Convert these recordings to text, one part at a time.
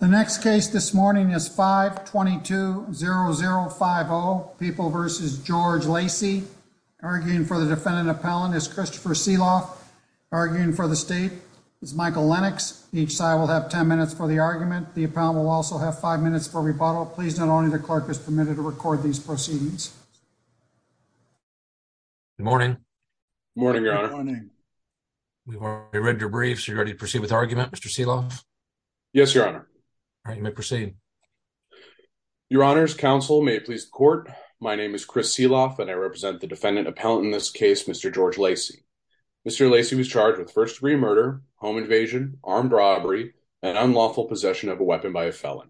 The next case this morning is 5 220050 people versus George Lacey arguing for the defendant. Appellant is Christopher Seeloff, arguing for the state is Michael Lennox. Each side will have 10 minutes for the argument. The appellant will also have five minutes for rebuttal. Please. Not only the clerk is permitted to record these proceedings. Good morning. Morning, Your Honor. We read your briefs. You're ready to proceed with argument, Mr Seeloff. Yes, Your Honor. You may proceed. Your Honor's counsel may please court. My name is Chris Seeloff, and I represent the defendant appellant in this case, Mr George Lacey. Mr Lacey was charged with first degree murder, home invasion, armed robbery and unlawful possession of a weapon by a felon.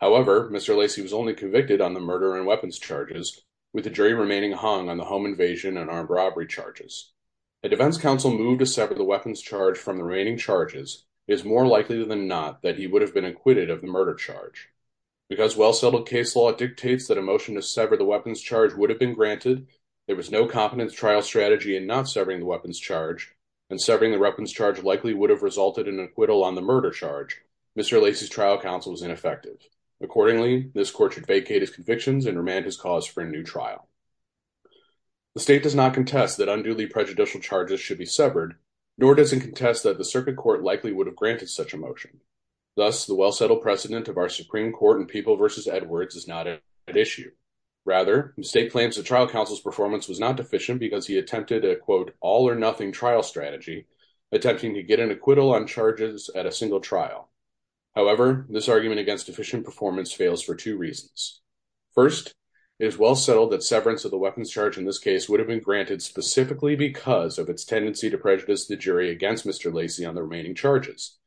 However, Mr Lacey was only convicted on the murder and weapons charges, with the jury remaining hung on the home invasion and armed robbery charges. A defense counsel moved to sever the weapons charge from the remaining charges is more likely than not that he would have been acquitted of the murder charge because well settled case law dictates that emotion to sever the weapons charge would have been granted. There was no competence trial strategy and not severing the weapons charge and severing the weapons charge likely would have resulted in acquittal on the murder charge. Mr Lacey's trial counsel was ineffective. Accordingly, this court should vacate his convictions and remand his cause for a new trial. The state does not contest that unduly prejudicial charges should be severed, nor doesn't contest that the circuit court likely would have motion. Thus, the well settled precedent of our Supreme Court and people versus Edwards is not an issue. Rather, mistake plans. The trial counsel's performance was not deficient because he attempted a quote all or nothing trial strategy, attempting to get an acquittal on charges at a single trial. However, this argument against efficient performance fails for two reasons. First is well settled that severance of the weapons charge in this case would have been granted specifically because of its tendency to prejudice the jury against Mr Lacey on the remaining charges.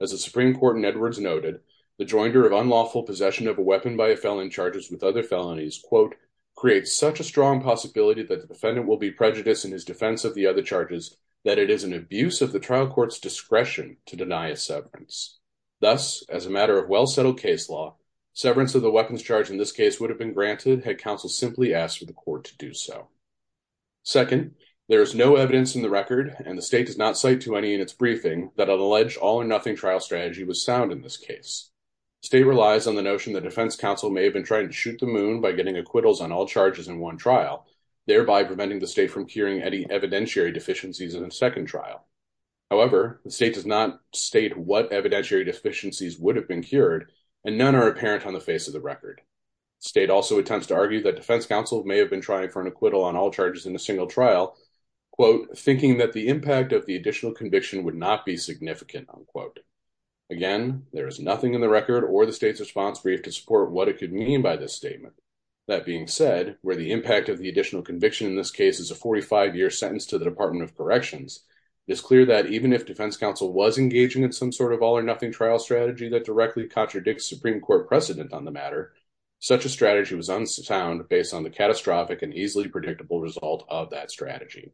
As the Supreme Court in Edwards noted, the joinder of unlawful possession of a weapon by a felon charges with other felonies quote creates such a strong possibility that the defendant will be prejudiced in his defense of the other charges that it is an abuse of the trial court's discretion to deny a severance. Thus, as a matter of well settled case law, severance of the weapons charge in this case would have been granted had counsel simply asked for the court to do so. Second, there is no evidence in the record and the state does not to any in its briefing that an alleged all or nothing trial strategy was sound in this case. State relies on the notion that defense counsel may have been trying to shoot the moon by getting acquittals on all charges in one trial, thereby preventing the state from curing any evidentiary deficiencies in the second trial. However, the state does not state what evidentiary deficiencies would have been cured, and none are apparent on the face of the record. State also attempts to argue that defense counsel may have been trying for an acquittal on all charges in a single trial quote thinking that the impact of the additional conviction would not be significant unquote. Again, there is nothing in the record or the state's response brief to support what it could mean by this statement. That being said, where the impact of the additional conviction in this case is a 45 year sentence to the Department of Corrections, it's clear that even if defense counsel was engaging in some sort of all or nothing trial strategy that directly contradicts Supreme Court precedent on the matter, such a strategy was unsound based on the catastrophic and easily predictable result of that strategy.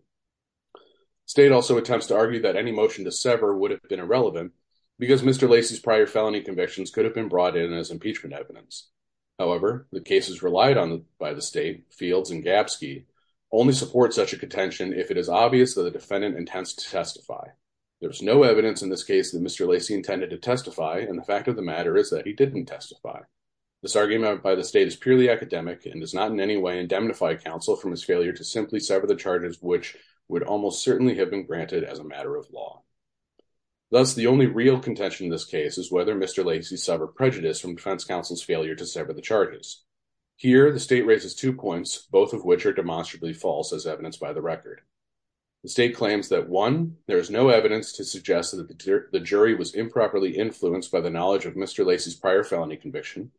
State also attempts to argue that any motion to sever would have been irrelevant because Mr. Lacey's prior felony convictions could have been brought in as impeachment evidence. However, the cases relied on by the state, Fields and Gapsky, only support such a contention if it is obvious that the defendant intends to testify. There's no evidence in this case that Mr. Lacey intended to testify, and the fact of the matter is that he didn't testify. This argument by the state is purely academic and does not in any way indemnify counsel from his failure to simply sever the charges, which would almost certainly have been granted as a matter of law. Thus, the only real contention in this case is whether Mr. Lacey suffered prejudice from defense counsel's failure to sever the charges. Here, the state raises two points, both of which are demonstrably false as evidenced by the record. The state claims that, one, there is no evidence to suggest that the jury was improperly influenced by the knowledge of Mr. Lacey's prior felony conviction,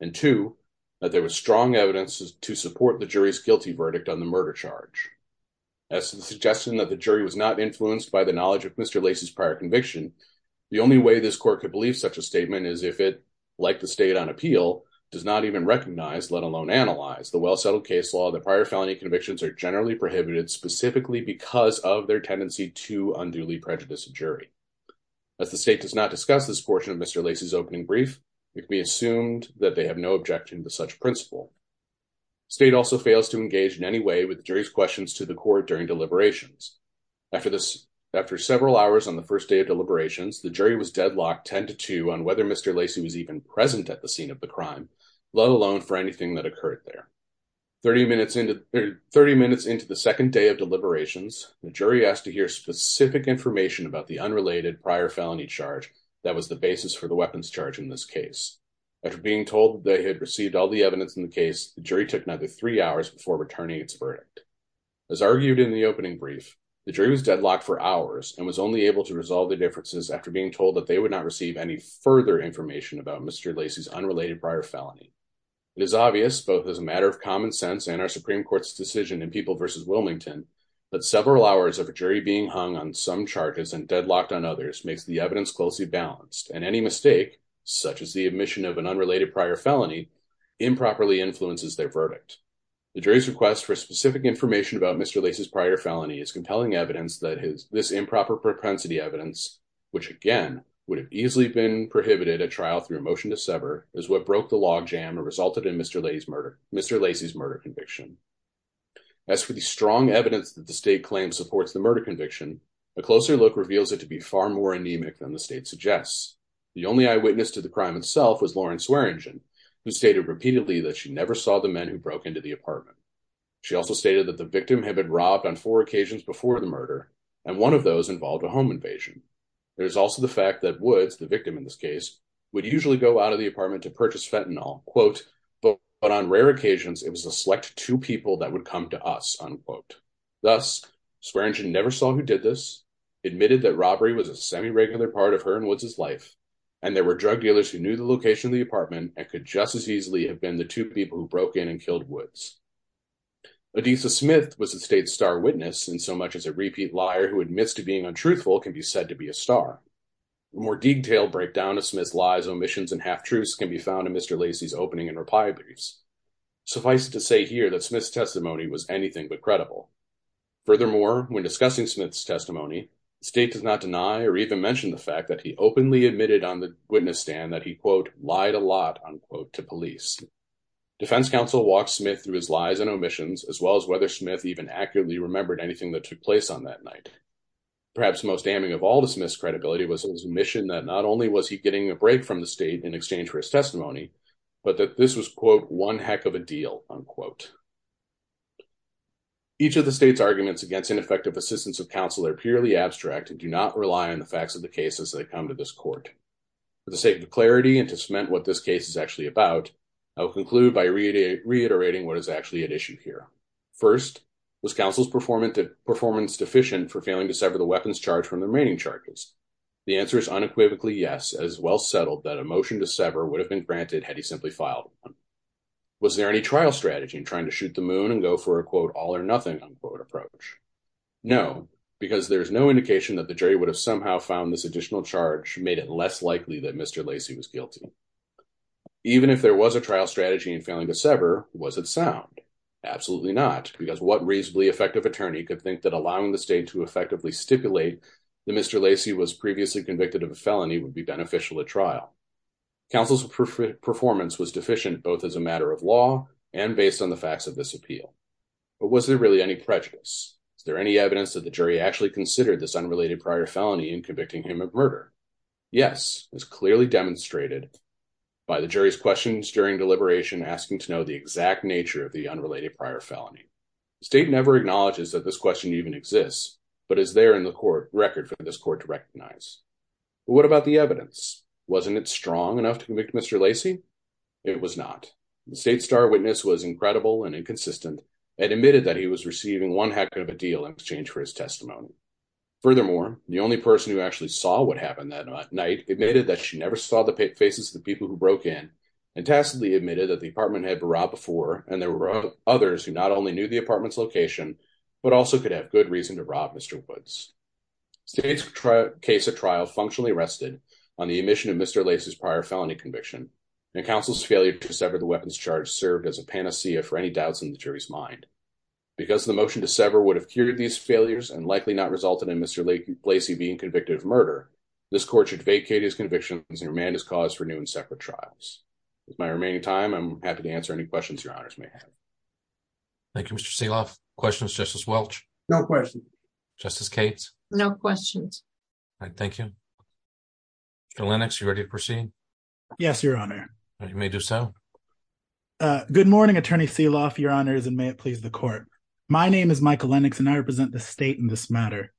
and two, that there is strong evidence to support the jury's guilty verdict on the murder charge. As to the suggestion that the jury was not influenced by the knowledge of Mr. Lacey's prior conviction, the only way this court could believe such a statement is if it, like the state on appeal, does not even recognize, let alone analyze, the well-settled case law that prior felony convictions are generally prohibited specifically because of their tendency to unduly prejudice a jury. As the state does not discuss this portion of Mr. Lacey's opening brief, it can be useful. State also fails to engage in any way with jury's questions to the court during deliberations. After several hours on the first day of deliberations, the jury was deadlocked 10 to 2 on whether Mr. Lacey was even present at the scene of the crime, let alone for anything that occurred there. 30 minutes into the second day of deliberations, the jury asked to hear specific information about the unrelated prior felony charge that was the basis for the weapons charge in this case. After being told that they had received all the evidence in the case, the jury took another three hours before returning its verdict. As argued in the opening brief, the jury was deadlocked for hours and was only able to resolve the differences after being told that they would not receive any further information about Mr. Lacey's unrelated prior felony. It is obvious, both as a matter of common sense and our Supreme Court's decision in People vs. Wilmington, that several hours of a jury being hung on some charges and deadlocked on others makes the evidence closely balanced and any mistake, such as the admission of an unrelated prior felony, improperly influences their verdict. The jury's request for specific information about Mr. Lacey's prior felony is compelling evidence that this improper propensity evidence, which again would have easily been prohibited at trial through a motion to sever, is what broke the log jam and resulted in Mr. Lacey's murder conviction. As for the strong evidence that the state claims supports the murder conviction, a closer look reveals it to be far more anemic than the state suggests. The only eyewitness to the case, who stated repeatedly that she never saw the men who broke into the apartment. She also stated that the victim had been robbed on four occasions before the murder, and one of those involved a home invasion. There is also the fact that Woods, the victim in this case, would usually go out of the apartment to purchase fentanyl, quote, but on rare occasions it was a select two people that would come to us, unquote. Thus, Swearingen never saw who did this, admitted that robbery was a semi-regular part of her and Woods' life, and there were drug dealers who knew the location of the apartment and could just as easily have been the two people who broke in and killed Woods. Adisa Smith was the state's star witness, and so much as a repeat liar who admits to being untruthful can be said to be a star. A more detailed breakdown of Smith's lies, omissions, and half-truths can be found in Mr. Lacey's opening and reply briefs. Suffice it to say here that Smith's testimony was anything but credible. Furthermore, when discussing Smith's testimony, the state does not deny or even mention the fact that he openly admitted on the witness stand that he, quote, lied a lot, unquote, to police. Defense counsel walked Smith through his lies and omissions, as well as whether Smith even accurately remembered anything that took place on that night. Perhaps most damning of all to Smith's credibility was his omission that not only was he getting a break from the state in exchange for his testimony, but that this was, quote, one heck of a deal, unquote. Each of the state's arguments against ineffective assistance of counsel are purely abstract and do not rely on the facts of the case as they come to this court. For the sake of clarity and to cement what this case is actually about, I'll conclude by reiterating what is actually at issue here. First, was counsel's performance deficient for failing to sever the weapons charge from the remaining charges? The answer is unequivocally yes, as well settled that a motion to sever would have been granted had he simply filed one. Was there any trial strategy in trying to shoot the moon and go for a, quote, all or nothing, unquote, approach? No, because there is no indication that the jury would have somehow found this guilty. Even if there was a trial strategy in failing to sever, was it sound? Absolutely not, because what reasonably effective attorney could think that allowing the state to effectively stipulate that Mr. Lacey was previously convicted of a felony would be beneficial at trial? Counsel's performance was deficient, both as a matter of law and based on the facts of this appeal. But was there really any prejudice? Is there any evidence that the jury actually considered this unrelated prior felony in convicting him of murder? Yes, as clearly demonstrated by the jury's questions during deliberation, asking to know the exact nature of the unrelated prior felony. State never acknowledges that this question even exists, but is there in the court record for this court to recognize. But what about the evidence? Wasn't it strong enough to convict Mr. Lacey? It was not. The state's star witness was incredible and inconsistent, and admitted that he was receiving one heck of a deal in exchange for his testimony. Furthermore, the only person who actually saw what night admitted that she never saw the faces of the people who broke in and tacitly admitted that the apartment had been robbed before and there were others who not only knew the apartment's location, but also could have good reason to rob Mr. Woods. State's case at trial functionally rested on the admission of Mr. Lacey's prior felony conviction, and counsel's failure to sever the weapons charge served as a panacea for any doubts in the jury's mind. Because the motion to sever would have cured these failures and likely not resulted in Mr. Lacey being convicted of murder, this court should vacate his convictions and remand his cause for new and separate trials. With my remaining time, I'm happy to answer any questions your honors may have. Thank you, Mr. Seeloff. Questions, Justice Welch? No questions. Justice Cates? No questions. All right, thank you. Michael Lennox, you ready to proceed? Yes, your honor. You may do so. Good morning, Attorney Seeloff, your honors, and may it please the court. My name is Michael Lennox, and I represent the state in this matter.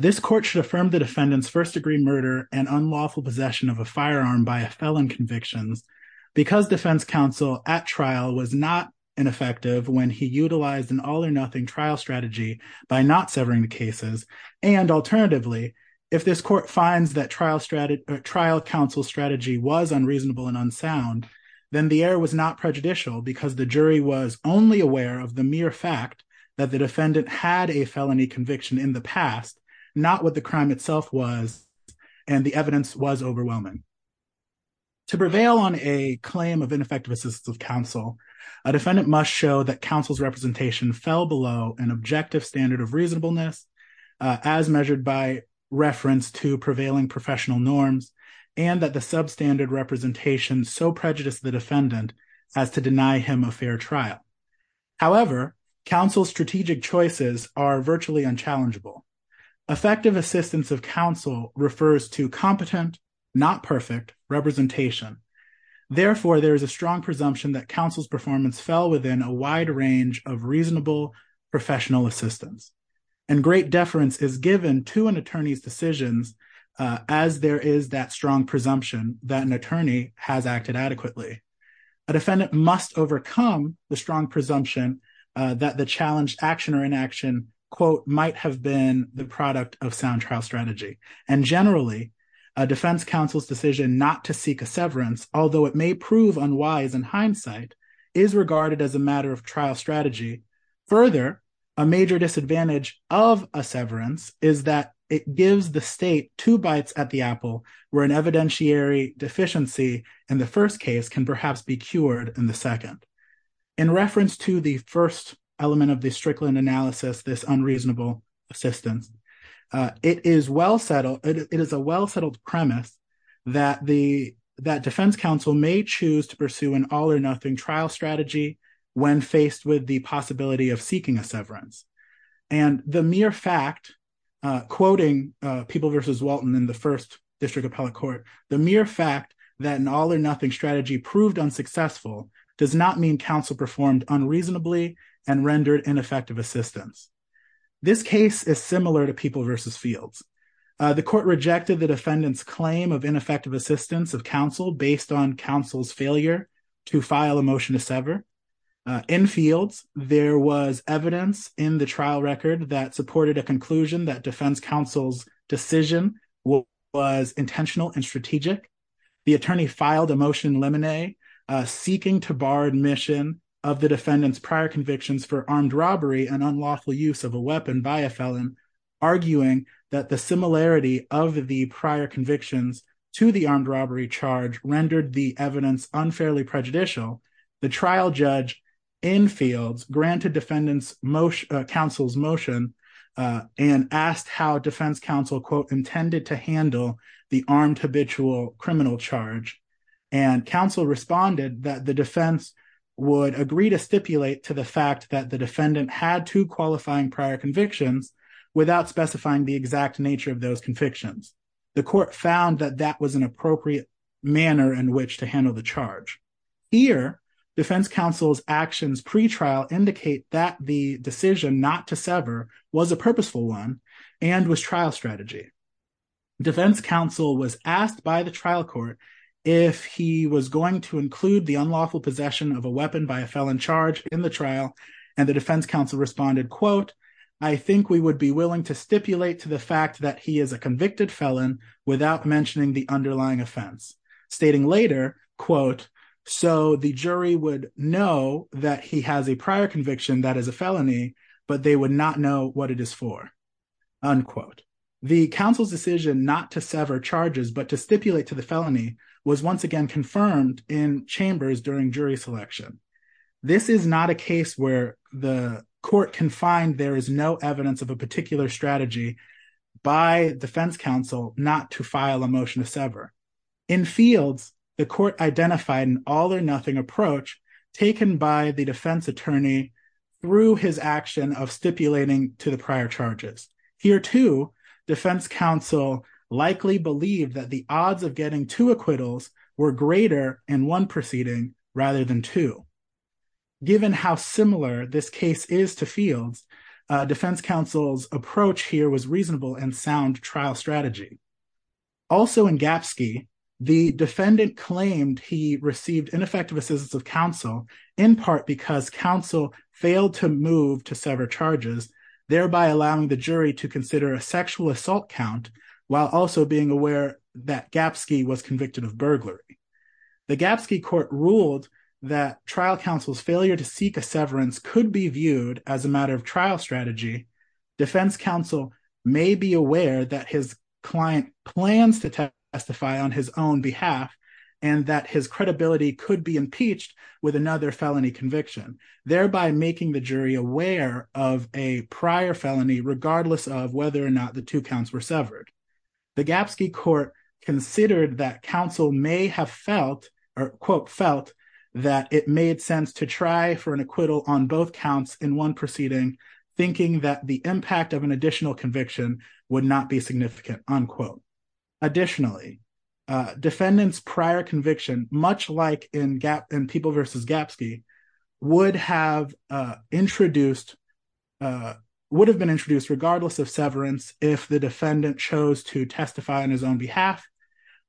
This court should affirm the defendant's first degree murder and unlawful possession of a firearm by a felon convictions. Because defense counsel at trial was not ineffective when he utilized an all or nothing trial strategy by not severing the cases. And alternatively, if this court finds that trial counsel strategy was unreasonable and unsound, then the error was not prejudicial because the jury in the past, not what the crime itself was, and the evidence was overwhelming. To prevail on a claim of ineffective assistance of counsel, a defendant must show that counsel's representation fell below an objective standard of reasonableness, as measured by reference to prevailing professional norms, and that the substandard representation so prejudiced the defendant as to deny him a fair trial. However, counsel's strategic choices are virtually unchallengeable. Effective assistance of counsel refers to competent, not perfect representation. Therefore, there is a strong presumption that counsel's performance fell within a wide range of reasonable professional assistance, and great deference is given to an attorney's decisions. As there is that strong presumption that an attorney has acted adequately, a defendant must overcome the strong presumption that the challenged action or inaction, quote, might have been the product of sound trial strategy. And generally, a defense counsel's decision not to seek a severance, although it may prove unwise in hindsight, is regarded as a matter of trial strategy. Further, a major disadvantage of a severance is that it gives the state two bites at the apple, where an evidentiary deficiency in the first case can perhaps be cured in the second. In reference to the first element of the Strickland analysis, this unreasonable assistance, it is well settled, it is a well settled premise, that the that defense counsel may choose to pursue an all or nothing trial strategy, when faced with the possibility of seeking a severance. And the mere fact, quoting people versus Walton in the first district appellate court, the mere fact that an all or nothing strategy proved unsuccessful does not mean counsel performed unreasonably and rendered ineffective assistance. This case is similar to people versus fields. The court rejected the defendant's claim of ineffective assistance of counsel based on counsel's failure to file a motion to sever. In fields, there was evidence in the trial record that supported a conclusion that defense counsel's decision was intentional and strategic. The attorney filed a motion limine seeking to bar admission of the defendant's prior convictions for armed robbery and unlawful use of a weapon by a felon, arguing that the similarity of the prior convictions to the armed robbery charge rendered the evidence unfairly prejudicial. The trial judge in fields granted defendants motion counsel's motion and asked how defense counsel quote intended to handle the armed habitual criminal charge. And counsel responded that the defense would agree to stipulate to the fact that the defendant had to qualifying prior convictions without specifying the exact nature of those convictions. The court found that that was an appropriate manner in which to handle the charge. Here, defense counsel's actions pre trial indicate that the decision not to sever was a purposeful one, and was trial strategy. Defense counsel was asked by the trial court, if he was going to include the unlawful possession of a weapon by a felon charge in the trial, and the defense counsel responded, quote, I think we would be willing to stipulate to the fact that he is a convicted felon without mentioning the underlying offense, stating later, quote, so the jury would know that he has a prior conviction that is a felony, but they would not know what it is for, unquote, the council's decision not to sever charges, but to stipulate to the felony was once again confirmed in chambers during jury selection. This is not a case where the court can find there is no evidence of a particular strategy by defense counsel not to file a motion to sever. In fields, the court identified an all or nothing approach taken by the defense attorney through his action of stipulating to the prior charges. Here to defense counsel likely believe that the odds of getting two acquittals were greater in one proceeding rather than two. Given how similar this case is to fields, defense counsel's approach here was reasonable and sound trial strategy. Also in Gapsky, the defendant claimed he received ineffective assistance of counsel, in part because counsel failed to move to sever charges, thereby allowing the jury to consider a sexual assault count, while also being aware that Gapsky was convicted of burglary. The Gapsky court ruled that trial counsel's failure to seek a severance could be viewed as a matter of trial strategy. Defense counsel may be aware that his client plans to testify on his own could be impeached with another felony conviction, thereby making the jury aware of a prior felony regardless of whether or not the two counts were severed. The Gapsky court considered that counsel may have felt or quote felt that it made sense to try for an acquittal on both counts in one proceeding, thinking that the impact of an additional conviction would not be significant, unquote. Additionally, defendants prior conviction, much like in people versus Gapsky, would have introduced, would have been introduced regardless of severance, if the defendant chose to testify on his own behalf,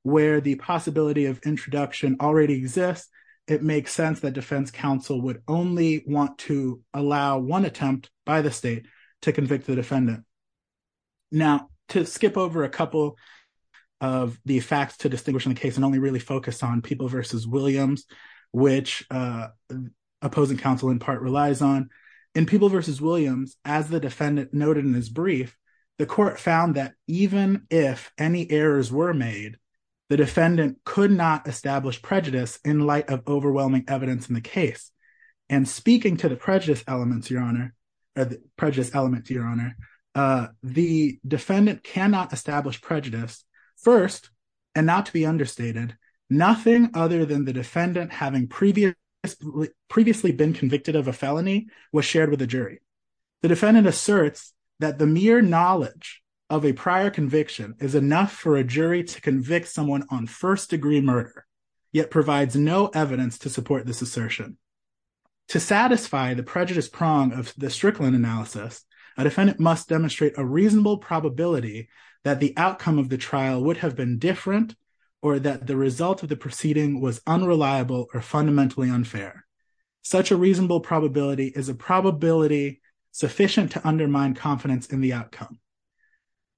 where the possibility of introduction already exists, it makes sense that defense counsel would only want to allow one attempt by the state to convict the defendant. Now, to skip over a couple of the facts to distinguish in the case and only really focus on people versus Williams, which opposing counsel in part relies on in people versus Williams, as the defendant noted in his brief, the court found that even if any errors were made, the defendant could not establish prejudice in light of overwhelming evidence in the case. And speaking to the prejudice elements, your honor, prejudice element to your honor, the defendant cannot establish prejudice. First, and not to be understated, nothing other than the defendant having previously, previously been convicted of a felony was shared with the jury. The defendant asserts that the mere knowledge of a prior conviction is enough for a jury to convict someone on first degree murder, yet provides no evidence to support this assertion. To satisfy the prejudice prong of the Strickland analysis, a defendant must demonstrate a reasonable probability that the outcome of the trial would have been different, or that the result of the proceeding was unreliable or fundamentally unfair. Such a reasonable probability is a probability sufficient to undermine confidence in the outcome.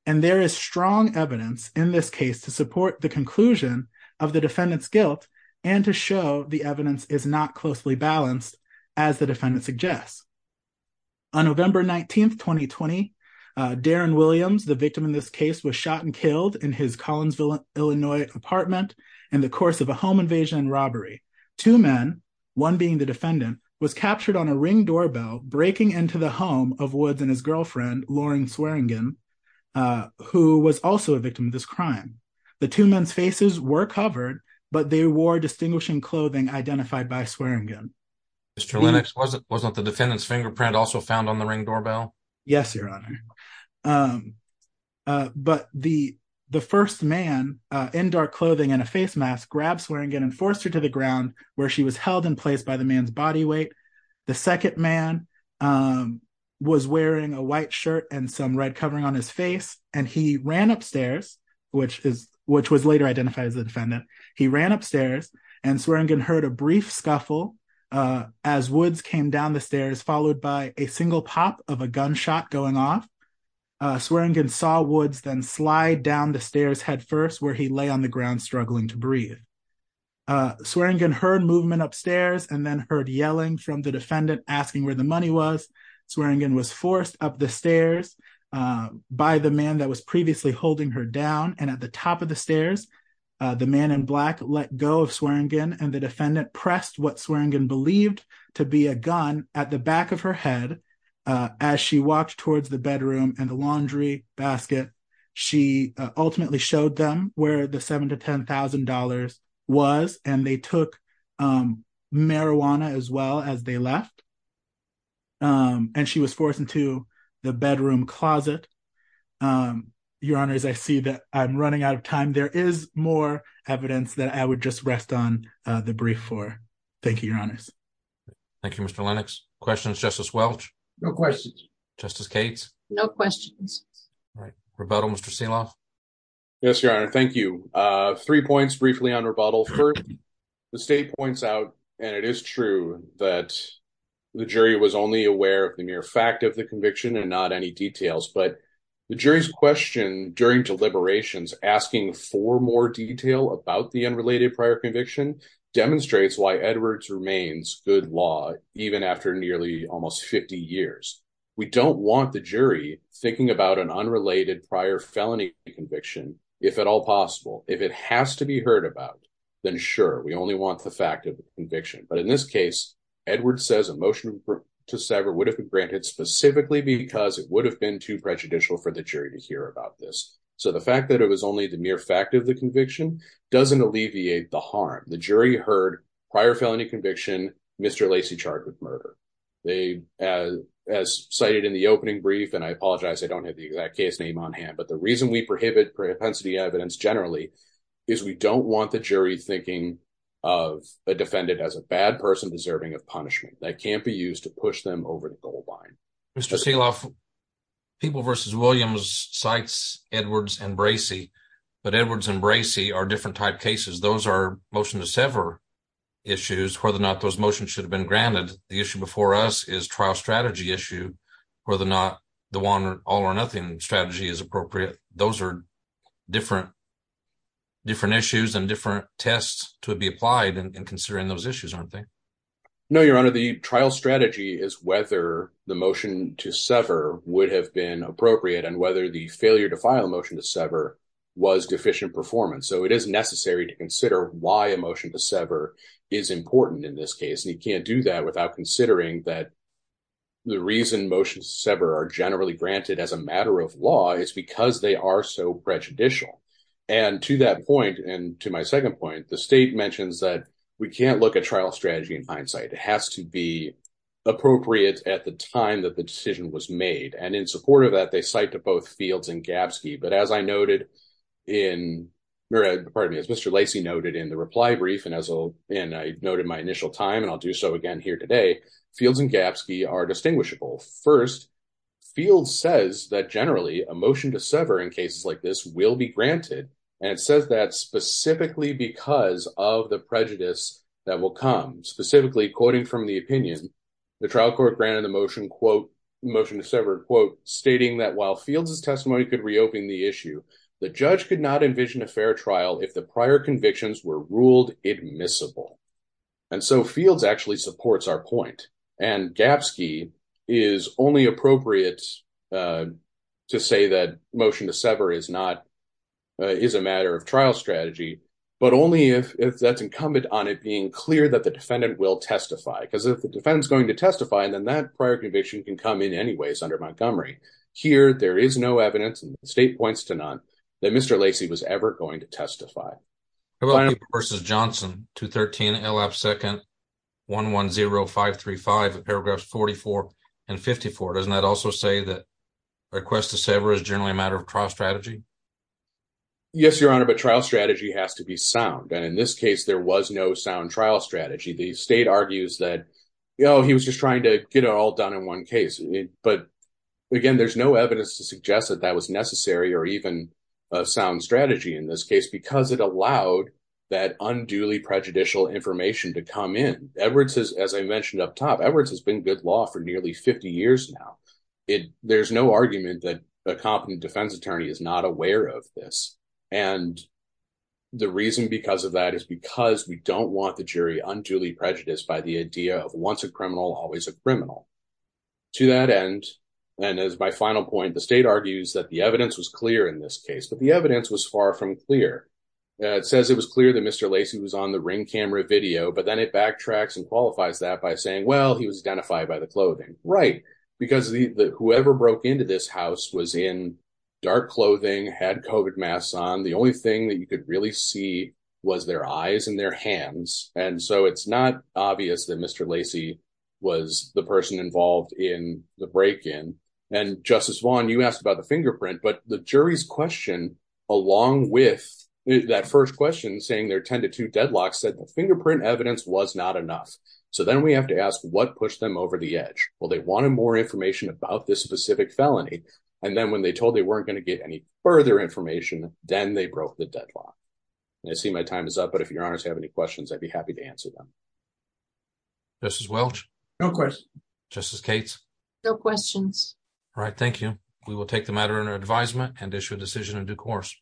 And there is strong evidence in this case to support the conclusion of the defendant's guilt, and to show the evidence is not closely Darren Williams, the victim in this case, was shot and killed in his Collinsville, Illinois apartment in the course of a home invasion robbery. Two men, one being the defendant, was captured on a ring doorbell breaking into the home of Woods and his girlfriend, Lauren Swearingen, who was also a victim of this crime. The two men's faces were covered, but they wore distinguishing clothing identified by Swearingen. Mr. Lennox, wasn't the defendant's fingerprint also found on the ring doorbell? Yes, Your Honor. But the first man in dark clothing and a face mask grabbed Swearingen and forced her to the ground where she was held in place by the man's body weight. The second man was wearing a white shirt and some red covering on his face, and he ran upstairs, which was later identified as a defendant. He ran upstairs, and Swearingen heard a brief scuffle as Woods came down the stairs, followed by a single pop of a gunshot going off. Swearingen saw Woods then slide down the stairs headfirst where he lay on the ground struggling to breathe. Swearingen heard movement upstairs and then heard yelling from the defendant asking where the money was. Swearingen was forced up the stairs by the man that was previously holding her down and at the top of the stairs. The man in black let go of Swearingen and the defendant pressed what Swearingen believed to be a gun at the back of her head. As she walked towards the bedroom and the laundry basket, she ultimately showed them where the $7,000 to $10,000 was, and they took marijuana as well as they left. And she was forced into the bedroom closet. Your Honors, I see that I'm running out of time. There is more evidence that I would just rest on the brief for. Thank you, Your Honors. Thank you, Mr. Lennox. Questions, Justice Welch? No questions. Justice Cates? No questions. All right. Rebuttal, Mr. Selaw? Yes, Your Honor. Thank you. Three points briefly on rebuttal. First, the state points out, and it is true, that the jury was only aware of the mere fact of the conviction and not any details. But the jury's question during deliberations asking for more detail about the unrelated prior conviction demonstrates why Edwards remains good law, even after nearly almost 50 years. We don't want the jury thinking about an unrelated prior felony conviction, if at all possible. If it has to be heard about, then sure, we only want the fact of the conviction. But in this case, Edwards says a motion to sever would have been granted specifically because it would have been too prejudicial for the jury to hear about this. So the fact that it was only the mere fact of the conviction doesn't alleviate the harm. The jury heard prior felony conviction, Mr. Lacey charged with murder. They, as cited in the opening brief, and I apologize, I don't have the exact case name on hand. But the reason we prohibit propensity evidence generally, is we don't want the jury thinking of a defendant as a bad person deserving of punishment that can't be used to push them over the goal line. Mr. Selaw, People v. Williams cites Edwards and Bracey, but they're different type cases. Those are motion to sever issues, whether or not those motions should have been granted. The issue before us is trial strategy issue, whether or not the one all or nothing strategy is appropriate. Those are different, different issues and different tests to be applied and considering those issues, aren't they? No, Your Honor, the trial strategy is whether the motion to sever would have been appropriate and whether the failure to file a motion to sever was deficient performance. So it is necessary to consider why a motion to sever is important in this case. And you can't do that without considering that the reason motions to sever are generally granted as a matter of law is because they are so prejudicial. And to that point, and to my second point, the state mentions that we can't look at trial strategy in hindsight, it has to be appropriate at the time that the decision was made. And in support of that, they cite to both Fields and Gapsky. But as I noted in, pardon me, as Mr. Lacey noted in the reply brief, and I noted my initial time, and I'll do so again here today, Fields and Gapsky are distinguishable. First, Fields says that generally a motion to sever in cases like this will be granted. And it says that specifically because of the prejudice that will come specifically, quoting from the opinion, the trial court granted the motion to sever, quote, stating that while Fields' testimony could reopen the issue, the judge could not envision a fair trial if the prior convictions were ruled admissible. And so Fields actually supports our point. And Gapsky is only appropriate to say that motion to sever is not, is a matter of trial strategy, but only if that's incumbent on it being clear that the defendant will testify because if the defendant is going to testify, then that prior conviction can come in anyways under Montgomery. Here there is no evidence, and the state points to none, that Mr. Lacey was ever going to testify. How about Cooper v. Johnson, 213 L.F. 2nd, 110535, paragraphs 44 and 54. Doesn't that also say that request to sever is generally a matter of trial strategy? Yes, Your Honor, but trial strategy has to be sound. And in this case, there was no sound trial strategy. The state argues that, you know, he was just trying to get it all done in one case. But again, there's no evidence to suggest that that was necessary or even a sound strategy in this case, because it allowed that unduly prejudicial information to come in. Edwards, as I mentioned up top, Edwards has been good law for nearly 50 years now. There's no argument that a competent defense attorney is not aware of this. And the reason because of that is because we don't want the jury unduly prejudiced by the idea of once a criminal, always a criminal. To that end, and as my final point, the state argues that the evidence was clear in this case, but the evidence was far from clear. It says it was clear that Mr. Lacey was on the ring camera video, but then it backtracks and qualifies that by saying, well, he was identified by the clothing, right? Because whoever broke into this house was in dark clothing, had COVID masks on, the only thing that you could really see was their eyes and their hands. And so it's not obvious that Mr. Lacey was the person involved in the break in. And Justice Vaughn, you asked about the fingerprint, but the jury's question, along with that first question saying there are 10 to two deadlocks said the fingerprint evidence was not enough. So then we have to ask what pushed them over the edge? Well, they wanted more information about this specific felony. And then when they told they weren't going to get any further information, then they broke the deadlock. I see my time is up. But if you're parents have any questions, I'd be happy to answer them. Justice Welch? No questions. Justice Cates? No questions. Right. Thank you. We will take the matter under advisement and issue a decision in due course.